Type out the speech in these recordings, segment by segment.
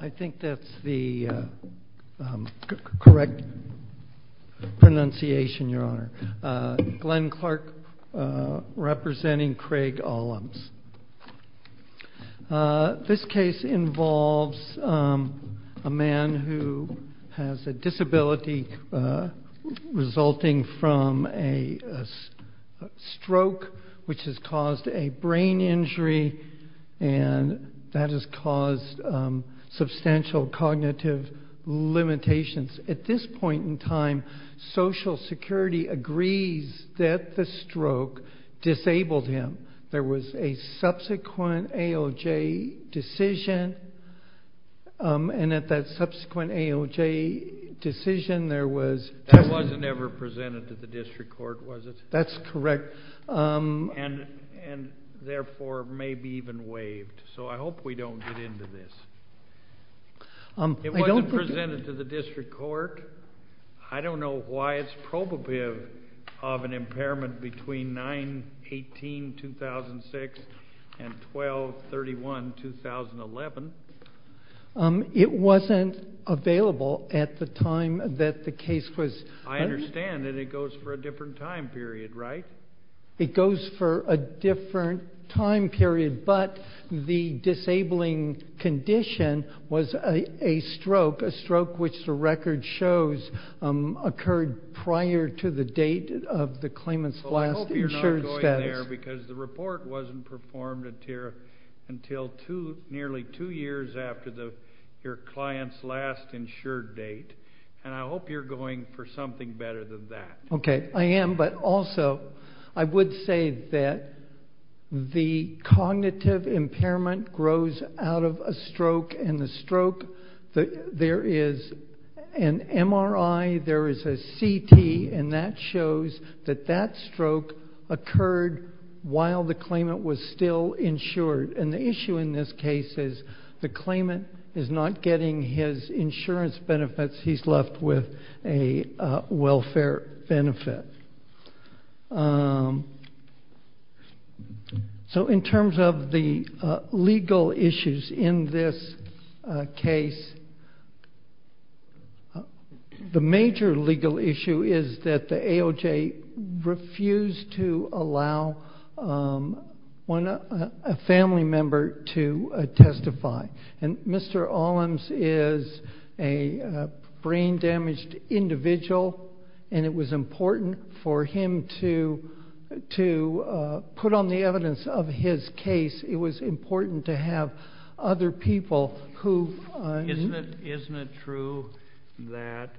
I think that's the correct pronunciation, your honor. Glenn Clark representing Craig Allums. This case involves a man who has a disability resulting from a stroke, which has caused a brain injury. And that has caused substantial cognitive limitations. At this point in time, Social Security agrees that the stroke disabled him. There was a subsequent AOJ decision. And at that subsequent AOJ decision, there was That wasn't ever presented to the district court, was it? That's correct. And therefore, may be even waived. So I hope we don't get into this. It wasn't presented to the district court. I don't know why it's probative of an impairment between 9-18, 2006, and 12-31, 2011. It wasn't available at the time that the case was. I understand that it goes for a different time period, right? It goes for a different time period. But the disabling condition was a stroke, a stroke which the record shows occurred prior to the date of the claimant's last insured status. Because the report wasn't performed until nearly two years after your client's last insured date. And I hope you're going for something better than that. OK, I am. But also, I would say that the cognitive impairment grows out of a stroke. And the stroke, there is an MRI. There is a CT. And that shows that that stroke occurred while the claimant was still insured. And the issue in this case is the claimant is not getting his insurance benefits. He's left with a welfare benefit. So in terms of the legal issues in this case, the major legal issue is that the AOJ refused to allow a family member to testify. And Mr. Olems is a brain damaged individual. And it was important for him to put on the evidence of his case. It was important to have other people who've Isn't it true that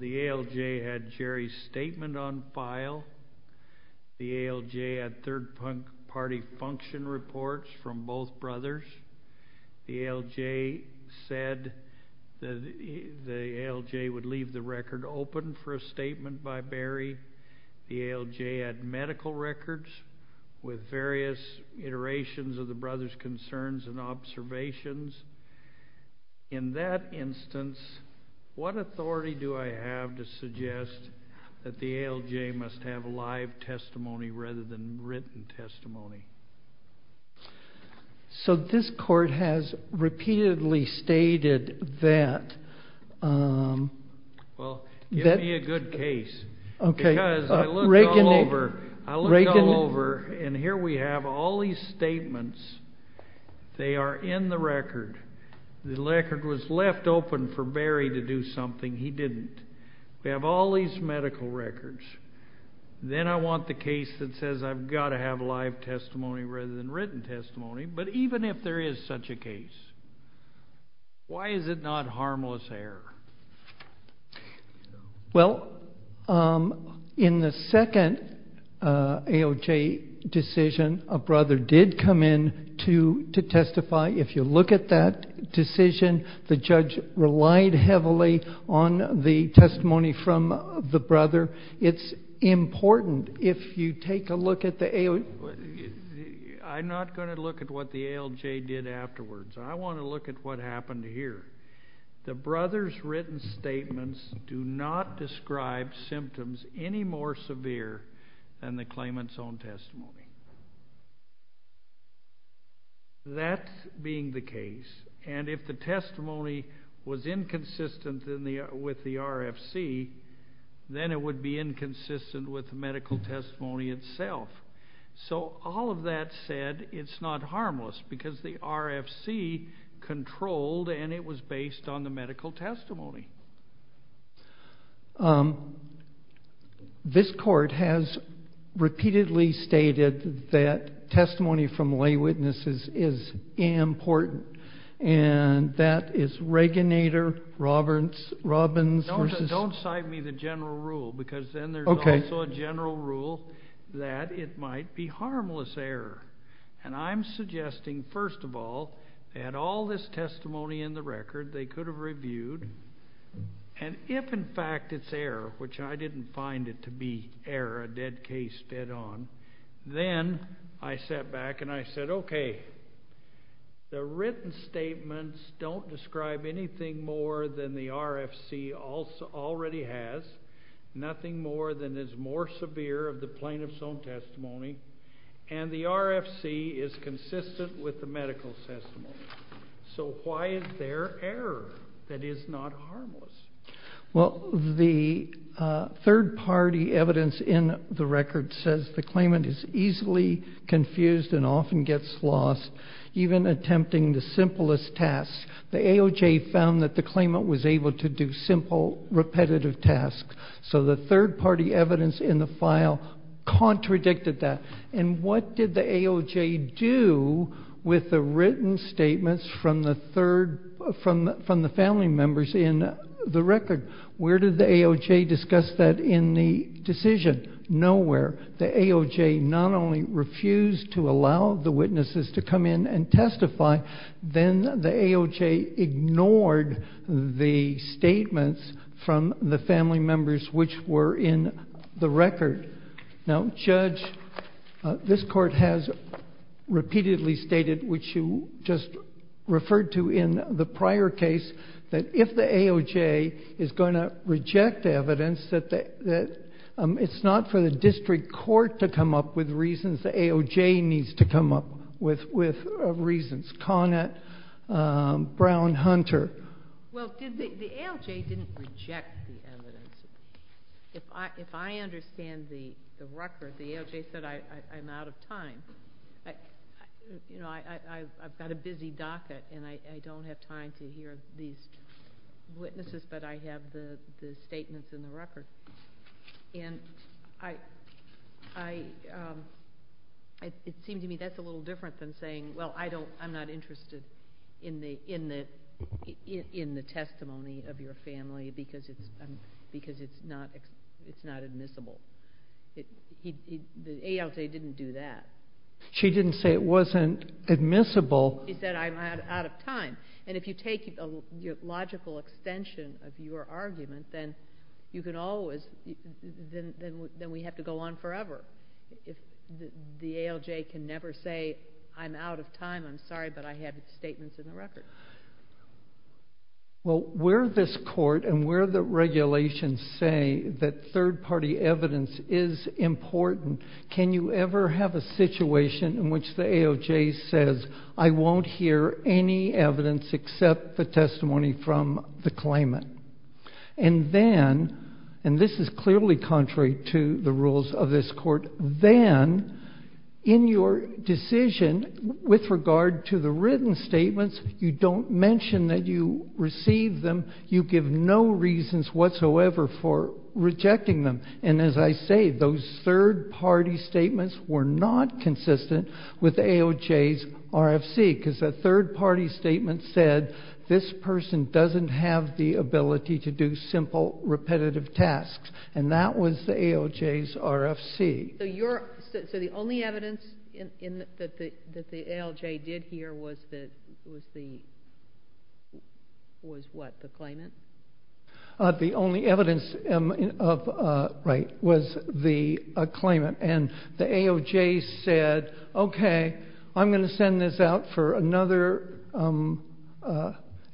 the AOJ had Jerry's statement on file? The AOJ had third party function reports from both brothers. The AOJ said that the AOJ would leave the record open for a statement by Barry. The AOJ had medical records with various iterations of the brother's concerns and observations. In that instance, what authority do I have to suggest that the AOJ must have a live testimony rather than written testimony? So this court has repeatedly stated that. Well, give me a good case. Because I looked all over, and here we have all these statements. They are in the record. The record was left open for Barry to do something. He didn't. We have all these medical records. Then I want the case that says I've got to have live testimony rather than written testimony. But even if there is such a case, why is it not harmless error? Well, in the second AOJ decision, a brother did come in to testify. If you look at that decision, the judge relied heavily on the testimony from the brother. It's important if you take a look at the AOJ. I'm not going to look at what the AOJ did afterwards. I want to look at what happened here. The brother's written statements do not describe symptoms any more severe than the claimant's own testimony. That being the case, and if the testimony was inconsistent with the RFC, then it would be inconsistent with the medical testimony itself. So all of that said, it's not harmless. Because the RFC controlled, and it was based on the medical testimony. This court has repeatedly stated that testimony from lay witnesses is important. And that is Reganator, Robbins versus. Don't cite me the general rule, because then there's also a general rule that it might be harmless error. And I'm suggesting, first of all, they had all this testimony in the record they could have reviewed. And if, in fact, it's error, which I didn't find it to be error, a dead case, dead on, then I sat back and I said, OK, the written statements don't describe anything more than the RFC already has. Nothing more than is more severe of the plaintiff's own testimony. And the RFC is consistent with the medical testimony. So why is there error that is not harmless? Well, the third party evidence in the record says the claimant is easily confused and often gets lost, even attempting the simplest tasks. The AOJ found that the claimant was able to do simple, repetitive tasks. So the third party evidence in the file contradicted that. And what did the AOJ do with the written statements from the family members in the record? Where did the AOJ discuss that in the decision? Nowhere. The AOJ not only refused to allow the witnesses to come in and testify, then the AOJ ignored the statements from the family members, which were in the record. Now, Judge, this court has repeatedly stated, which you just referred to in the prior case, that if the AOJ is going to reject evidence, that it's not for the district court to come up with reasons. The AOJ needs to come up with reasons. Conant, Brown, Hunter. Well, the AOJ didn't reject the evidence. If I understand the record, the AOJ said, I'm out of time. I've got a busy docket. And I don't have time to hear these witnesses, but I have the statements in the record. And it seemed to me that's a little different than saying, well, I'm not interested in the testimony of your family because it's not admissible. The AOJ didn't do that. She didn't say it wasn't admissible. She said, I'm out of time. And if you take a logical extension of your argument, then you can always, then we have to go on forever. If the AOJ can never say, I'm out of time, I'm sorry, but I have statements in the record. Well, where this court and where the regulations say that third party evidence is important, can you ever have a situation in which the AOJ says, I won't hear any evidence except the testimony from the claimant? And then, and this is clearly contrary to the rules of this court, then in your decision, with regard to the written statements, you don't mention that you received them. You give no reasons whatsoever for rejecting them. And as I say, those third party statements were not consistent with the AOJ's RFC because a third party statement said, this person doesn't have the ability to do simple repetitive tasks. And that was the AOJ's RFC. So the only evidence that the ALJ did here was the, was what, the claimant? The only evidence, right, was the claimant. And the AOJ said, okay, I'm gonna send this out for another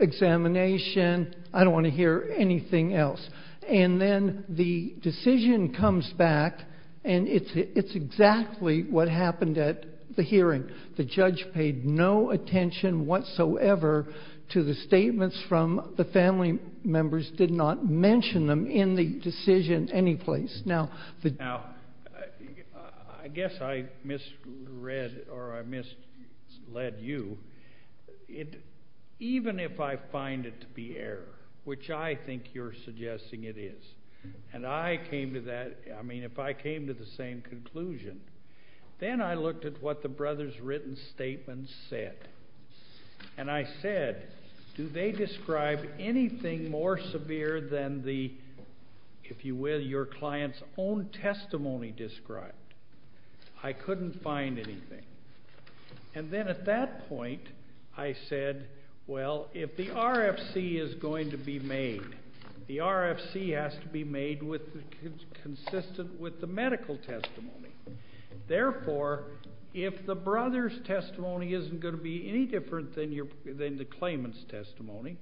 examination. I don't wanna hear anything else. And then the decision comes back and it's exactly what happened at the hearing. The judge paid no attention whatsoever to the statements from the family members, did not mention them in the decision any place. Now, I guess I misread or I misled you. Even if I find it to be error, which I think you're suggesting it is, and I came to that, I mean, if I came to the same conclusion, then I looked at what the brother's written statement said. And I said, do they describe anything more severe than the, if you will, your client's own testimony described? I couldn't find anything. And then at that point, I said, well, if the RFC is going to be made, the RFC has to be made with, consistent with the medical testimony. Therefore, if the brother's testimony isn't gonna be any different than the claimant's testimony,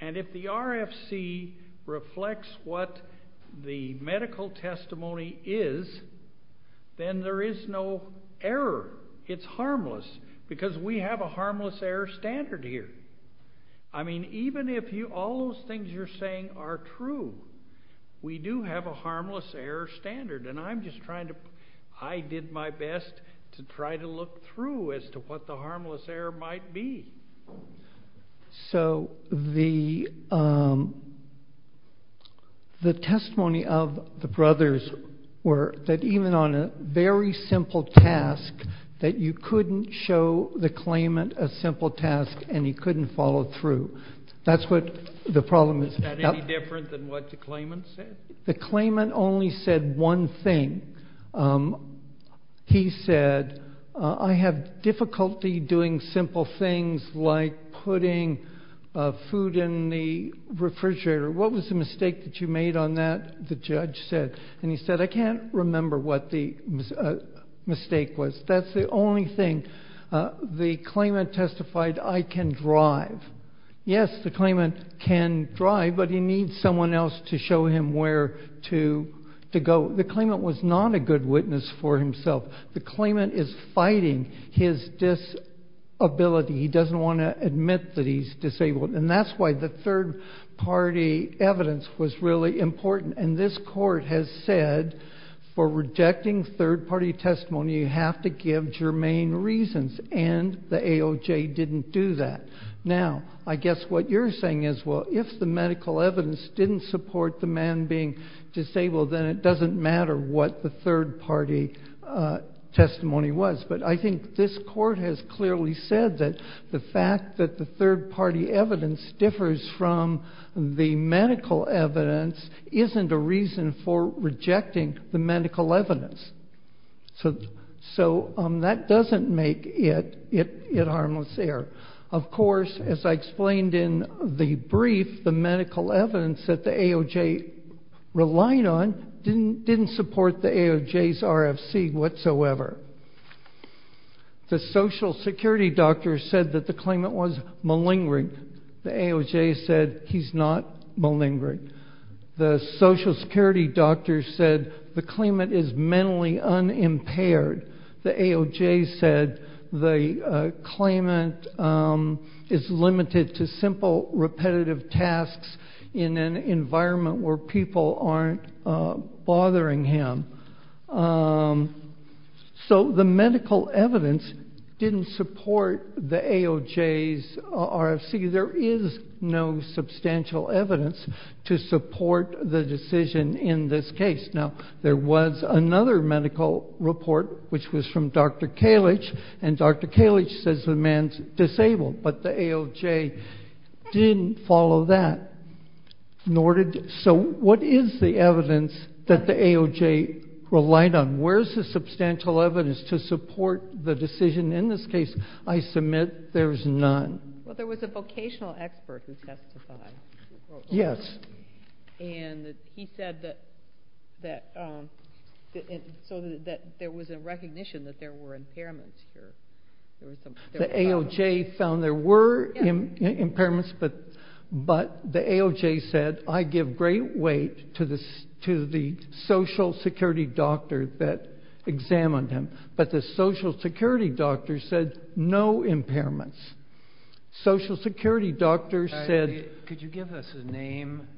and if the RFC reflects what the medical testimony is, then there is no error. It's harmless, because we have a harmless error standard here. I mean, even if you, all those things you're saying are true, we do have a harmless error standard. And I'm just trying to, I did my best to try to look through as to what the harmless error might be. So the, the testimony of the brothers were, that even on a very simple task, that you couldn't show the claimant a simple task and he couldn't follow through. That's what the problem is. Is that any different than what the claimant said? The claimant only said one thing. He said, I have difficulty doing simple things like putting food in the refrigerator. What was the mistake that you made on that? The judge said, and he said, I can't remember what the mistake was. That's the only thing. The claimant testified, I can drive. Yes, the claimant can drive, but he needs someone else to show him where to go. The claimant was not a good witness for himself. The claimant is fighting his disability. He doesn't want to admit that he's disabled. And that's why the third party evidence was really important. And this court has said, for rejecting third party testimony, you have to give germane reasons. And the AOJ didn't do that. Now, I guess what you're saying is, well, if the medical evidence didn't support the man being disabled, then it doesn't matter what the third party testimony was. But I think this court has clearly said that the fact that the third party evidence differs from the medical evidence isn't a reason for rejecting the medical evidence. So that doesn't make it harmless error. Of course, as I explained in the brief, the medical evidence that the AOJ relied on didn't support the AOJ's RFC whatsoever. The social security doctor said that the claimant was malingering. The AOJ said he's not malingering. The social security doctor said the claimant is mentally unimpaired. The AOJ said the claimant is limited to simple repetitive tasks in an environment where people aren't bothering him. So the medical evidence didn't support the AOJ's RFC. There is no substantial evidence to support the decision in this case. Now, there was another medical report, which was from Dr. Kalich, and Dr. Kalich says the man's disabled, but the AOJ didn't follow that. So what is the evidence that the AOJ relied on? Where's the substantial evidence to support the decision in this case? I submit there's none. Well, there was a vocational expert who testified. Yes. And he said that there was a recognition that there were impairments here. The AOJ found there were impairments, but the AOJ said, I give great weight to the social security doctor that examined him. But the social security doctor said no impairments. Social security doctor said- Could you give us a name?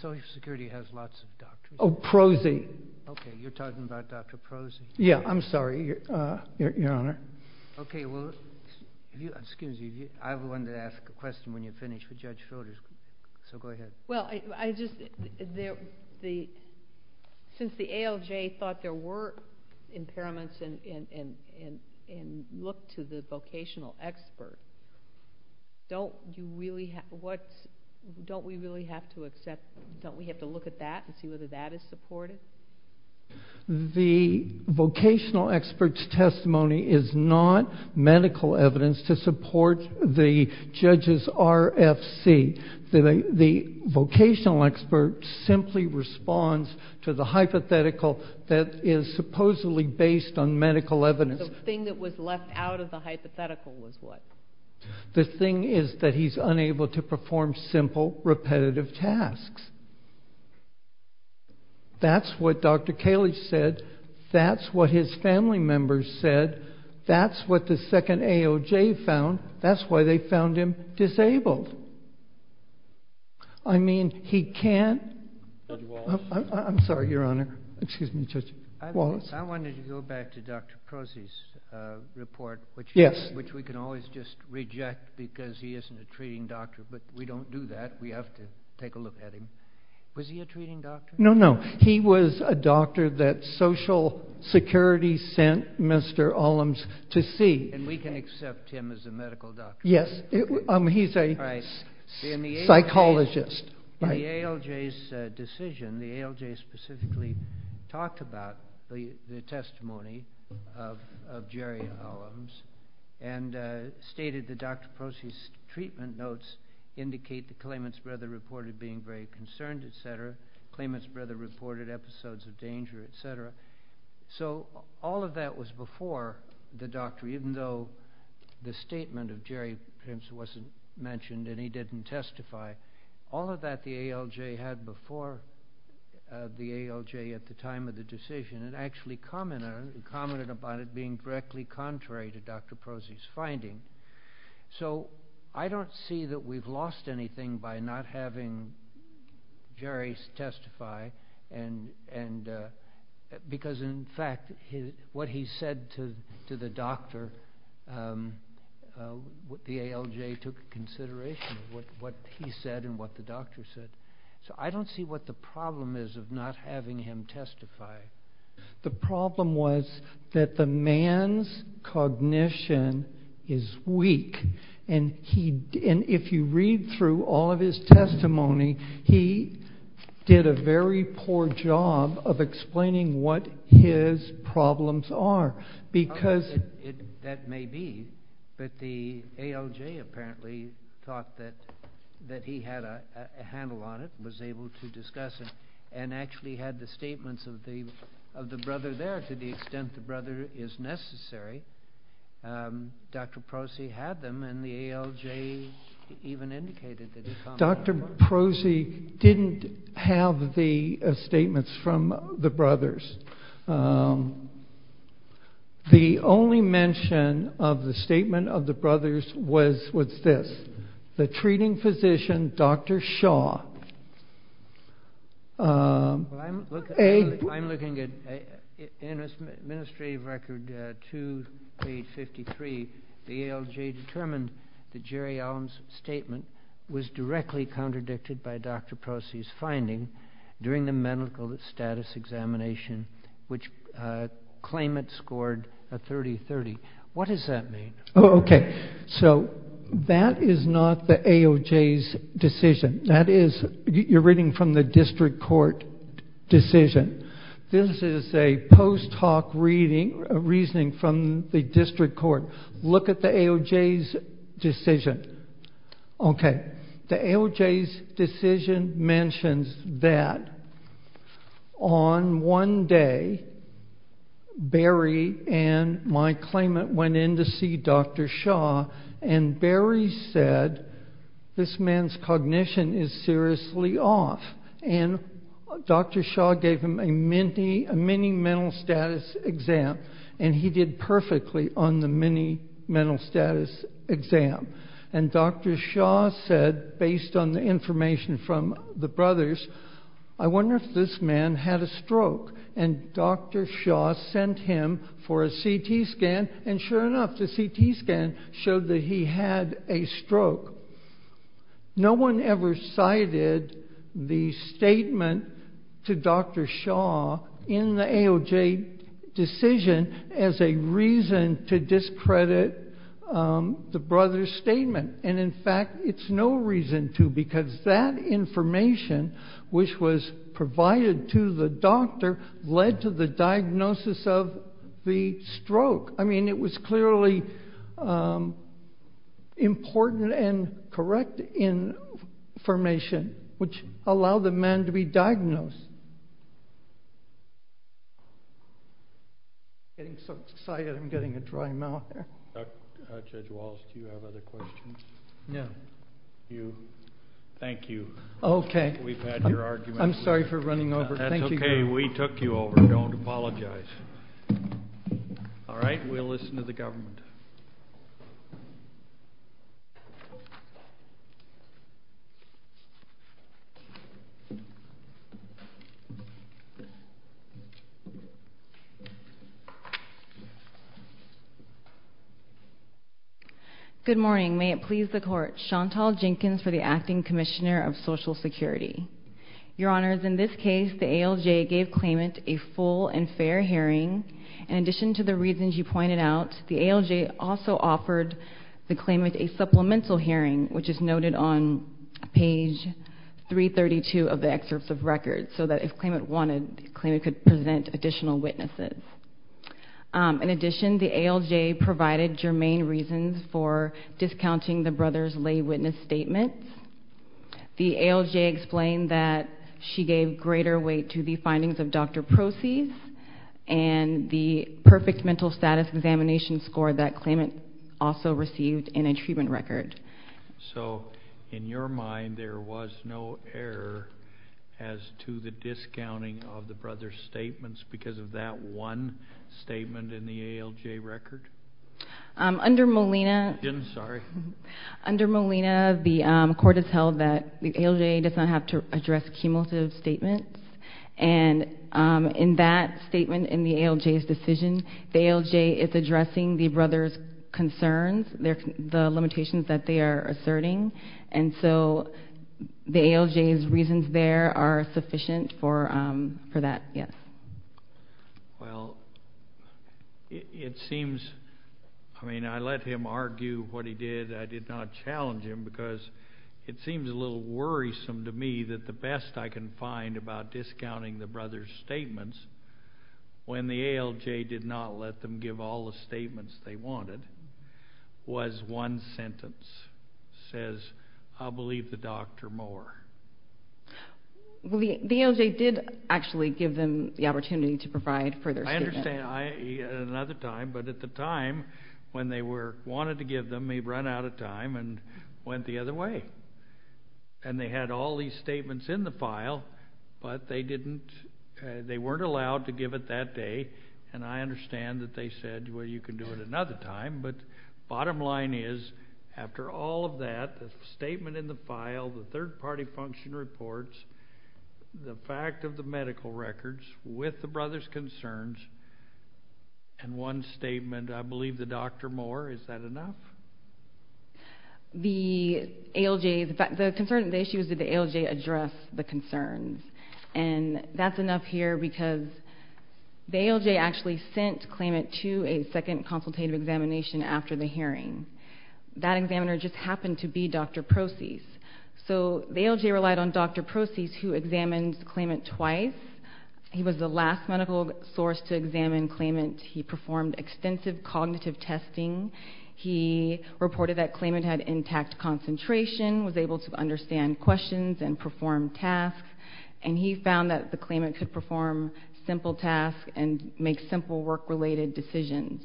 Social security has lots of doctors. Oh, Prosey. Okay, you're talking about Dr. Prosey. Yeah, I'm sorry, your honor. Okay, well, excuse me, I have one to ask a question when you're finished with Judge Schroeder, so go ahead. Well, I just, since the AOJ thought there were impairments and looked to the vocational expert, don't you really, don't we really have to accept, don't we have to look at that and see whether that is supported? The vocational expert's testimony is not medical evidence to support the judge's RFC. The vocational expert simply responds to the hypothetical that is supposedly based on medical evidence. The thing that was left out of the hypothetical was what? The thing is that he's unable to perform simple repetitive tasks. That's what Dr. Kalish said. That's what his family members said. That's what the second AOJ found. That's why they found him disabled. I mean, he can't, I'm sorry, your honor. Excuse me, Judge Wallace. I wanted to go back to Dr. Prosey's report, which we can always just reject because he isn't a treating doctor, but we don't do that. We have to take a look at him. Was he a treating doctor? No, no, he was a doctor that Social Security sent Mr. Ollams to see. And we can accept him as a medical doctor. Yes, he's a psychologist. In the AOJ's decision, the AOJ specifically talked about the testimony of Jerry Ollams and stated that Dr. Prosey's treatment notes indicate that Klamath's brother reported being very concerned, et cetera. Klamath's brother reported episodes of danger, et cetera. So all of that was before the doctor, even though the statement of Jerry perhaps wasn't mentioned and he didn't testify. All of that, the AOJ had before the AOJ at the time of the decision and actually commented about it being directly contrary to Dr. Prosey's finding. So I don't see that we've lost anything by not having Jerry testify. Because in fact, what he said to the doctor, the AOJ took consideration of what he said and what the doctor said. So I don't see what the problem is of not having him testify. The problem was that the man's cognition is weak and if you read through all of his testimony, he did a very poor job of explaining what his problems are because. That may be, but the AOJ apparently thought that he had a handle on it, was able to discuss it and actually had the statements of the brother there to the extent the brother is necessary. Dr. Prosey had them and the AOJ even indicated that. Dr. Prosey didn't have the statements from the brothers. The only mention of the statement of the brothers was what's this? The treating physician, Dr. Shaw. I'm looking at administrative record, 2853, the AOJ determined that Jerry Allen's statement was directly contradicted by Dr. Prosey's finding during the medical status examination, which claimant scored a 30-30. What does that mean? Oh, okay. So that is not the AOJ's decision. That is, you're reading from the district court decision. This is a post hoc reasoning from the district court. Look at the AOJ's decision. Okay, the AOJ's decision mentions that on one day, Barry and my claimant went in to see Dr. Shaw and Barry said, this man's cognition is seriously off. And Dr. Shaw gave him a mini mental status exam and he did perfectly on the mini mental status exam. And Dr. Shaw said, based on the information from the brothers, I wonder if this man had a stroke. And Dr. Shaw sent him for a CT scan. And sure enough, the CT scan showed that he had a stroke. No one ever cited the statement to Dr. Shaw in the AOJ decision as a reason to discredit the brother's statement. And in fact, it's no reason to, because that information, which was provided to the doctor, led to the diagnosis of the stroke. I mean, it was clearly important and correct information which allowed the man to be diagnosed. Getting so excited, I'm getting a dry mouth. Judge Wallace, do you have other questions? No. You, thank you. Okay. We've had your argument. I'm sorry for running over. Thank you. That's okay, we took you over, don't apologize. All right, we'll listen to the government. Good morning. May it please the court. Chantal Jenkins for the Acting Commissioner of Social Security. Your honors, in this case, the AOJ gave claimant a full and fair hearing. In addition to the reasons you pointed out, the AOJ also offered the claimant a supplemental hearing, which is noted on page 332 of the excerpts of records, so that if claimant wanted, claimant could present additional witnesses. In addition, the AOJ provided germane reasons for discounting the brother's lay witness statement. The AOJ explained that she gave greater weight to the findings of doctor proceeds and the perfect mental status examination score that claimant also received in a treatment record. So, in your mind, there was no error as to the discounting of the brother's statements because of that one statement in the AOJ record? Under Molina. Sorry. Under Molina, the court has held that the AOJ does not have to address cumulative statements, and in that statement in the AOJ's decision, the AOJ is addressing the brother's concerns, the limitations that they are asserting, and so the AOJ's reasons there are sufficient for that, yes. Well, it seems, I mean, I let him argue what he did. I did not challenge him because it seems a little worrisome to me that the best I can find about discounting the brother's statements when the AOJ did not let them give all the statements they wanted was one sentence, says, I'll believe the doctor more. Well, the AOJ did actually give them the opportunity to provide further statement. I understand, at another time, but at the time when they wanted to give them, they ran out of time and went the other way, and they had all these statements in the file, but they didn't, they weren't allowed to give it that day, and I understand that they said, well, you can do it another time, but bottom line is, after all of that, the statement in the file, the third-party function reports, the fact of the medical records with the brother's concerns, and one statement, I believe the doctor more, is that enough? The AOJ, the concern, the issue is, did the AOJ address the concerns, and that's enough here, because the AOJ actually sent Klayment to a second consultative examination after the hearing. That examiner just happened to be Dr. Procease, so the AOJ relied on Dr. Procease, who examined Klayment twice. He was the last medical source to examine Klayment. He performed extensive cognitive testing. He reported that Klayment had intact concentration, was able to understand questions and perform tasks, and he found that Klayment could perform simple tasks and make simple work-related decisions,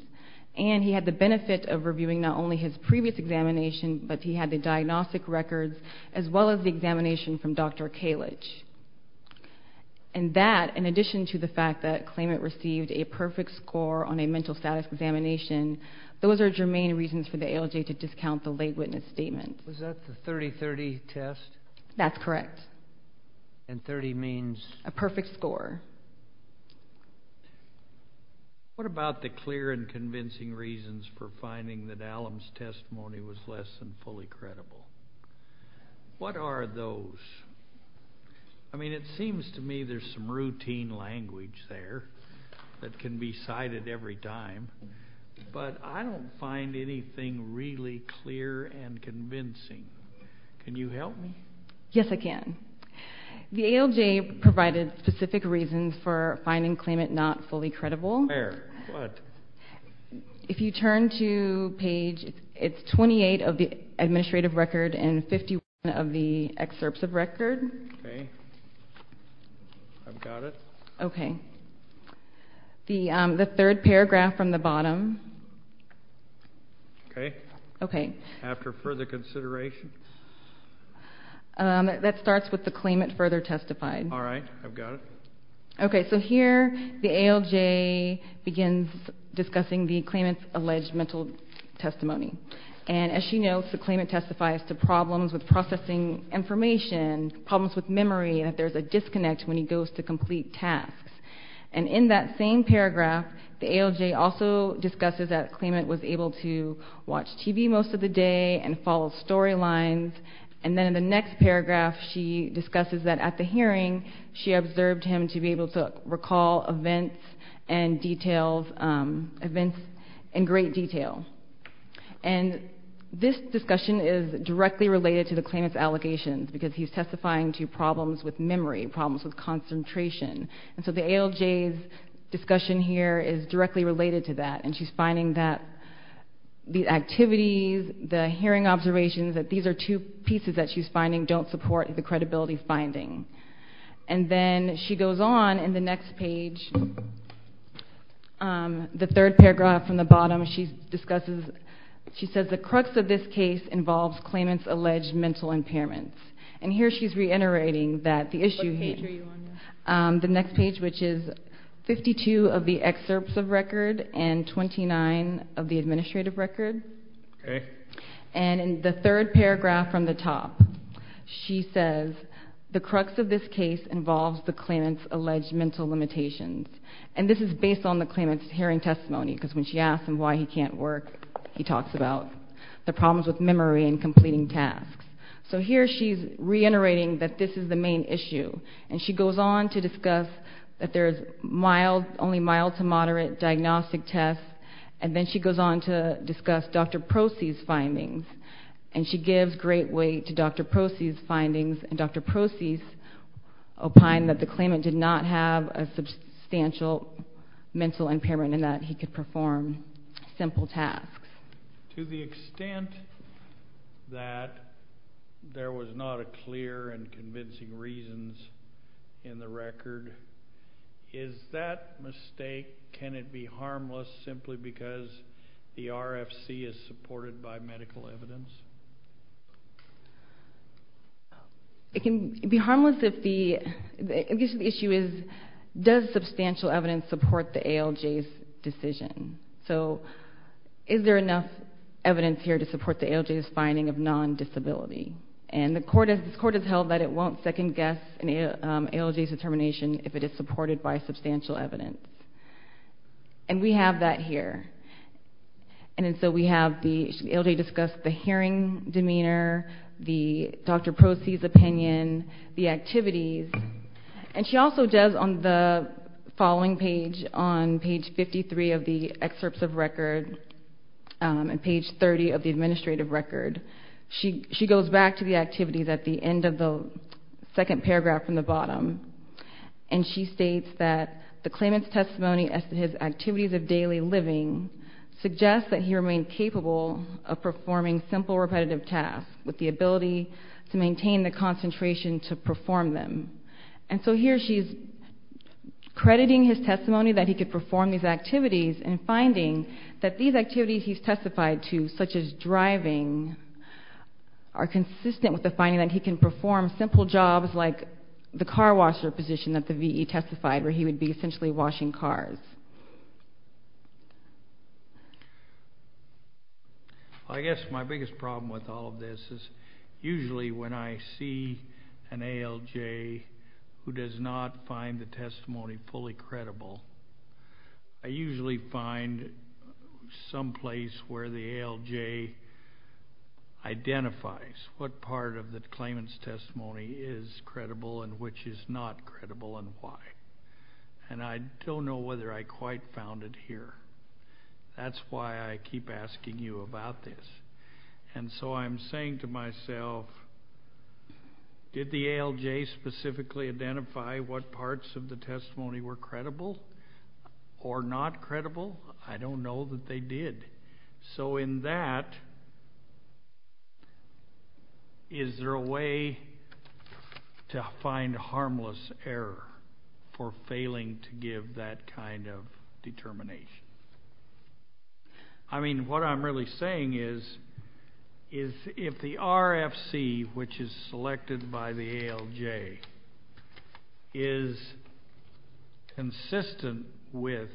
and he had the benefit of reviewing not only his previous examination, but he had the diagnostic records as well as the examination from Dr. Kalich, and that, in addition to the fact that Klayment received a perfect score on a mental status examination, those are germane reasons for the AOJ to discount the lay witness statement. Was that the 30-30 test? That's correct. And 30 means? A perfect score. What about the clear and convincing reasons for finding that Allum's testimony was less than fully credible? What are those? I mean, it seems to me there's some routine language there that can be cited every time, but I don't find anything really clear and convincing. Can you help me? Yes, I can. The AOJ provided specific reasons for finding Klayment not fully credible. Where? What? If you turn to page, it's 28 of the administrative record and 51 of the excerpts of record. Okay. I've got it. Okay. The third paragraph from the bottom. Okay. Okay. After further consideration. That starts with the Klayment further testified. All right, I've got it. Okay, so here the AOJ begins discussing the Klayment's alleged mental testimony. And as she knows, the Klayment testifies to problems with processing information, problems with memory, and that there's a disconnect when he goes to complete tasks. And in that same paragraph, the AOJ also discusses that Klayment was able to watch TV most of the day and follow storylines. And then in the next paragraph, she discusses that at the hearing, she observed him to be able to recall events and details, events in great detail. And this discussion is directly related to the Klayment's allegations because he's testifying to problems with memory, problems with concentration. And so the AOJ's discussion here is directly related to that and she's finding that the activities, the hearing observations, that these are two pieces that she's finding don't support the credibility finding. And then she goes on in the next page. The third paragraph from the bottom, she discusses, she says, the crux of this case involves Klayment's alleged mental impairments. And here she's reiterating that the issue here. What page are you on? The next page, which is 52 of the excerpts of record and 29 of the administrative record. Okay. And in the third paragraph from the top, she says, the crux of this case involves the Klayment's alleged mental limitations. And this is based on the Klayment's hearing testimony because when she asked him why he can't work, he talks about the problems with memory and completing tasks. So here she's reiterating that this is the main issue. And she goes on to discuss that there's mild, only mild to moderate diagnostic tests. And then she goes on to discuss Dr. Procey's findings. And she gives great weight to Dr. Procey's findings and Dr. Procey's opine that the Klayment did not have a substantial mental impairment and that he could perform simple tasks. To the extent that there was not a clear and convincing reasons in the record, is that mistake, can it be harmless simply because the RFC is supported by medical evidence? It can be harmless if the issue is, does substantial evidence support the ALJ's decision? So is there enough evidence here to support the ALJ's finding of non-disability? And the court has held that it won't second guess an ALJ's determination if it is supported by substantial evidence. And we have that here. And so we have the ALJ discuss the hearing demeanor, the Dr. Procey's opinion, the activities. And she also does on the following page, on page 53 of the excerpts of record and page 30 of the administrative record, she goes back to the activities at the end of the second paragraph from the bottom. And she states that the Klayment's testimony as to his activities of daily living suggests that he remained capable of performing simple repetitive tasks with the ability to maintain the concentration to perform them. And so here she's crediting his testimony that he could perform these activities and finding that these activities he's testified to, such as driving, are consistent with the finding that he can perform simple jobs like the car washer position that the VE testified where he would be essentially washing cars. I guess my biggest problem with all of this is usually when I see an ALJ who does not find the testimony fully credible, I usually find some place where the ALJ identifies what part of the Klayment's testimony is credible and which is not credible and why. And I don't know whether I quite found it here. That's why I keep asking you about this. And so I'm saying to myself, did the ALJ specifically identify what parts of the testimony were credible or not credible? I don't know that they did. So in that, is there a way to find harmless error for failing to give that kind of determination? I mean, what I'm really saying is, is if the RFC, which is selected by the ALJ, is consistent with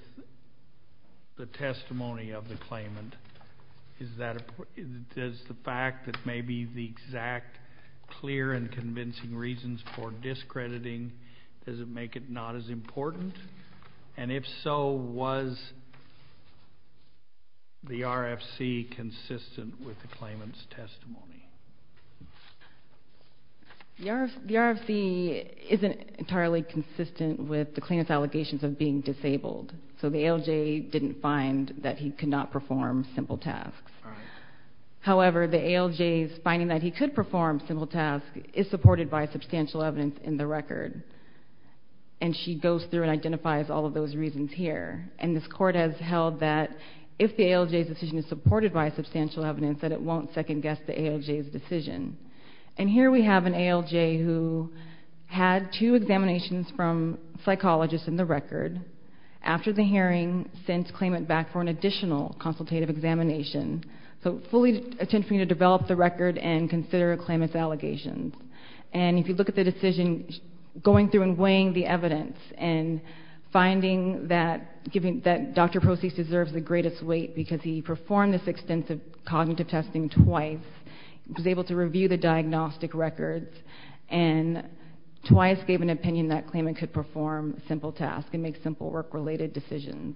the testimony of the Klayment, does the fact that maybe the exact clear and convincing reasons for discrediting, does it make it not as important? And if so, was the RFC consistent with the Klayment's testimony? The RFC isn't entirely consistent with the Klayment's allegations of being disabled. So the ALJ didn't find that he could not perform simple tasks. However, the ALJ's finding that he could perform simple tasks is supported by substantial evidence in the record. And she goes through and identifies all of those reasons here. And this court has held that if the ALJ's decision is supported by substantial evidence, that it won't second guess the ALJ's decision. And here we have an ALJ who had two examinations from psychologists in the record. After the hearing, sent Klayment back for an additional consultative examination. So fully attempting to develop the record and consider Klayment's allegations. And if you look at the decision, going through and weighing the evidence and finding that Dr. Proceeds deserves the greatest weight because he performed this extensive cognitive testing twice, was able to review the diagnostic records and twice gave an opinion that Klayment could perform simple tasks and make simple work-related decisions.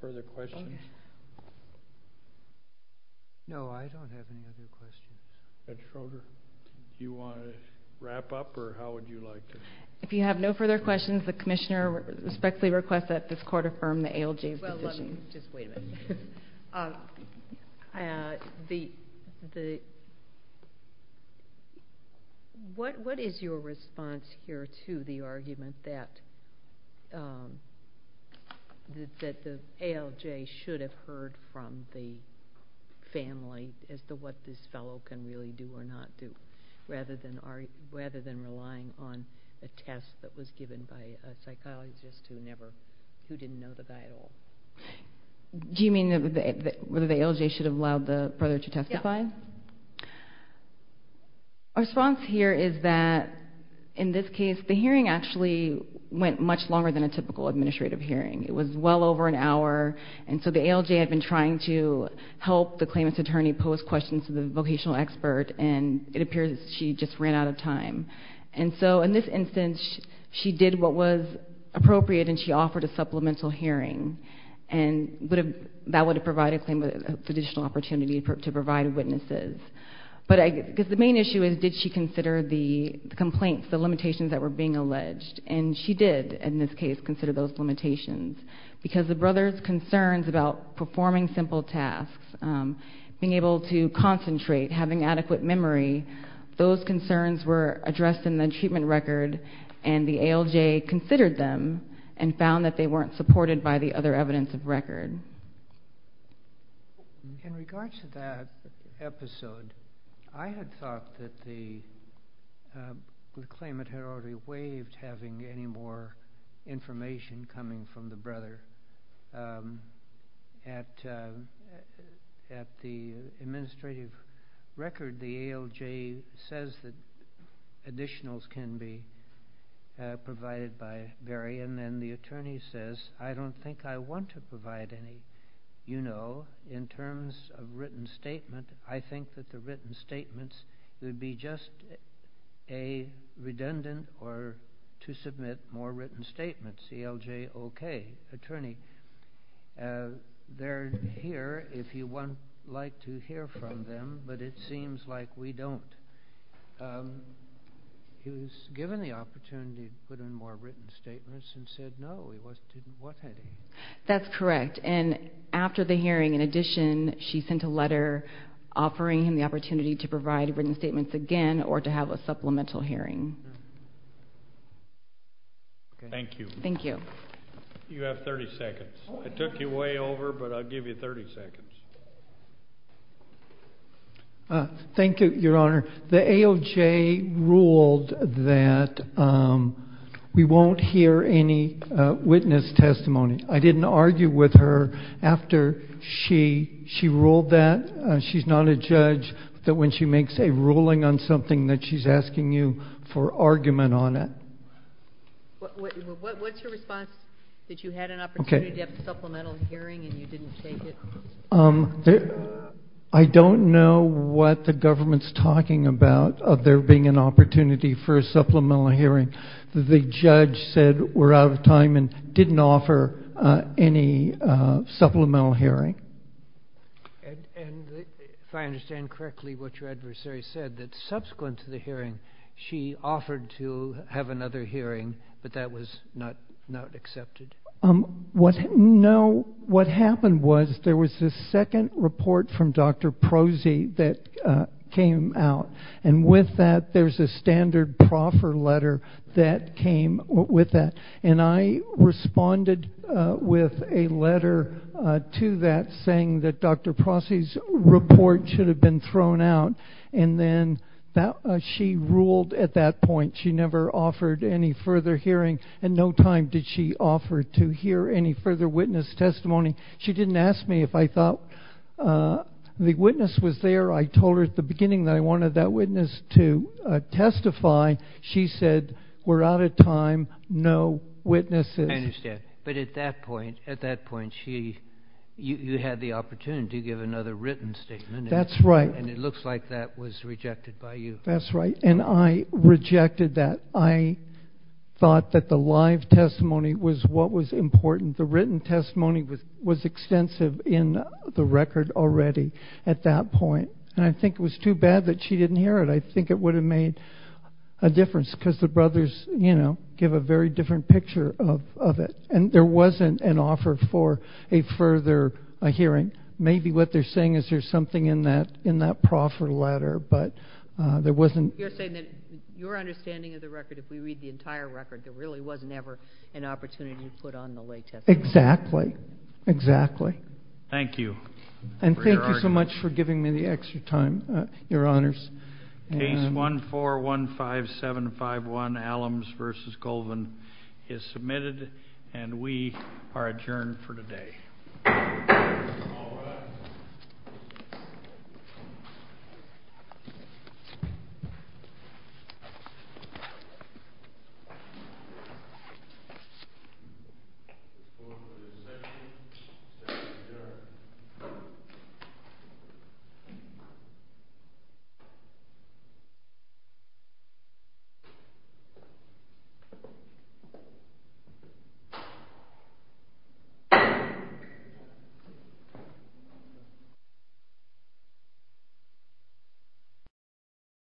Further questions? No, I don't have any other questions. Judge Felder, do you want to wrap up or how would you like to? If you have no further questions, the commissioner respectfully requests that this court affirm the ALJ's decision. Just wait a minute. What is your response here to the argument that the ALJ should have heard from the family as to what this fellow can really do or not do rather than relying on a test that was given by a psychologist who didn't know the guy at all? Do you mean whether the ALJ should have allowed the brother to testify? Yeah. Our response here is that in this case, the hearing actually went much longer than a typical administrative hearing. It was well over an hour. And so the ALJ had been trying to help the Klayment's attorney pose questions to the vocational expert and it appears she just ran out of time. And so in this instance, she did what was appropriate and she offered a supplemental hearing and that would have provided Klayment additional opportunity to provide witnesses. But I guess the main issue is, did she consider the complaints, the limitations that were being alleged? And she did, in this case, consider those limitations because the brother's concerns about performing simple tasks, being able to concentrate, having adequate memory, those concerns were addressed in the treatment record and the ALJ considered them and found that they weren't supported by the other evidence of record. In regards to that episode, I had thought that the Klayment had already waived having any more information coming from the brother. At the administrative record, the ALJ says that additionals can be provided by Vary and then the attorney says, I don't think I want to provide any, you know, in terms of written statement. I think that the written statements would be just a redundant or to submit more written statements. ALJ, okay. Attorney, they're here if you want, like to hear from them, but it seems like we don't. He was given the opportunity to put in more written statements and said, no, he wasn't doing what I did. That's correct. And after the hearing, in addition, she sent a letter offering him the opportunity to provide written statements again or to have a supplemental hearing. Thank you. Thank you. You have 30 seconds. I took you way over, but I'll give you 30 seconds. Thank you, Your Honor. The ALJ ruled that we won't hear any witness testimony. I didn't argue with her after she ruled that. She's not a judge, that when she makes a ruling on something that she's asking you for argument on it. What's your response? That you had an opportunity to have a supplemental hearing and you didn't take it? I don't know what the government's talking about of there being an opportunity for a supplemental hearing. The judge said we're out of time and didn't offer any supplemental hearing. that subsequent to the hearing, she offered to have another hearing, but that was not accepted. What happened was there was a second report from Dr. Procey that came out. And with that, there's a standard proffer letter that came with that. And I responded with a letter to that saying that Dr. Procey's report should have been thrown out. And then she ruled at that point, she never offered any further hearing and no time did she offer to hear any further witness testimony. She didn't ask me if I thought the witness was there. I told her at the beginning that I wanted that witness to testify. She said, we're out of time, no witnesses. I understand. But at that point, you had the opportunity to give another written statement. That's right. And it looks like that was rejected by you. That's right. And I rejected that. I thought that the live testimony was what was important. The written testimony was extensive in the record already at that point. And I think it was too bad that she didn't hear it. I think it would have made a difference because the brothers give a very different picture of it. And there wasn't an offer for a further hearing. Maybe what they're saying is there's something in that proffer letter, but there wasn't. You're saying that your understanding of the record, if we read the entire record, there really was never an opportunity to put on the lay testimony. Exactly, exactly. Thank you for your argument. And thank you so much for giving me the extra time, Your Honors. Case 1415751, Allums versus Colvin is submitted and we are adjourned for today. Thank you. Thank you.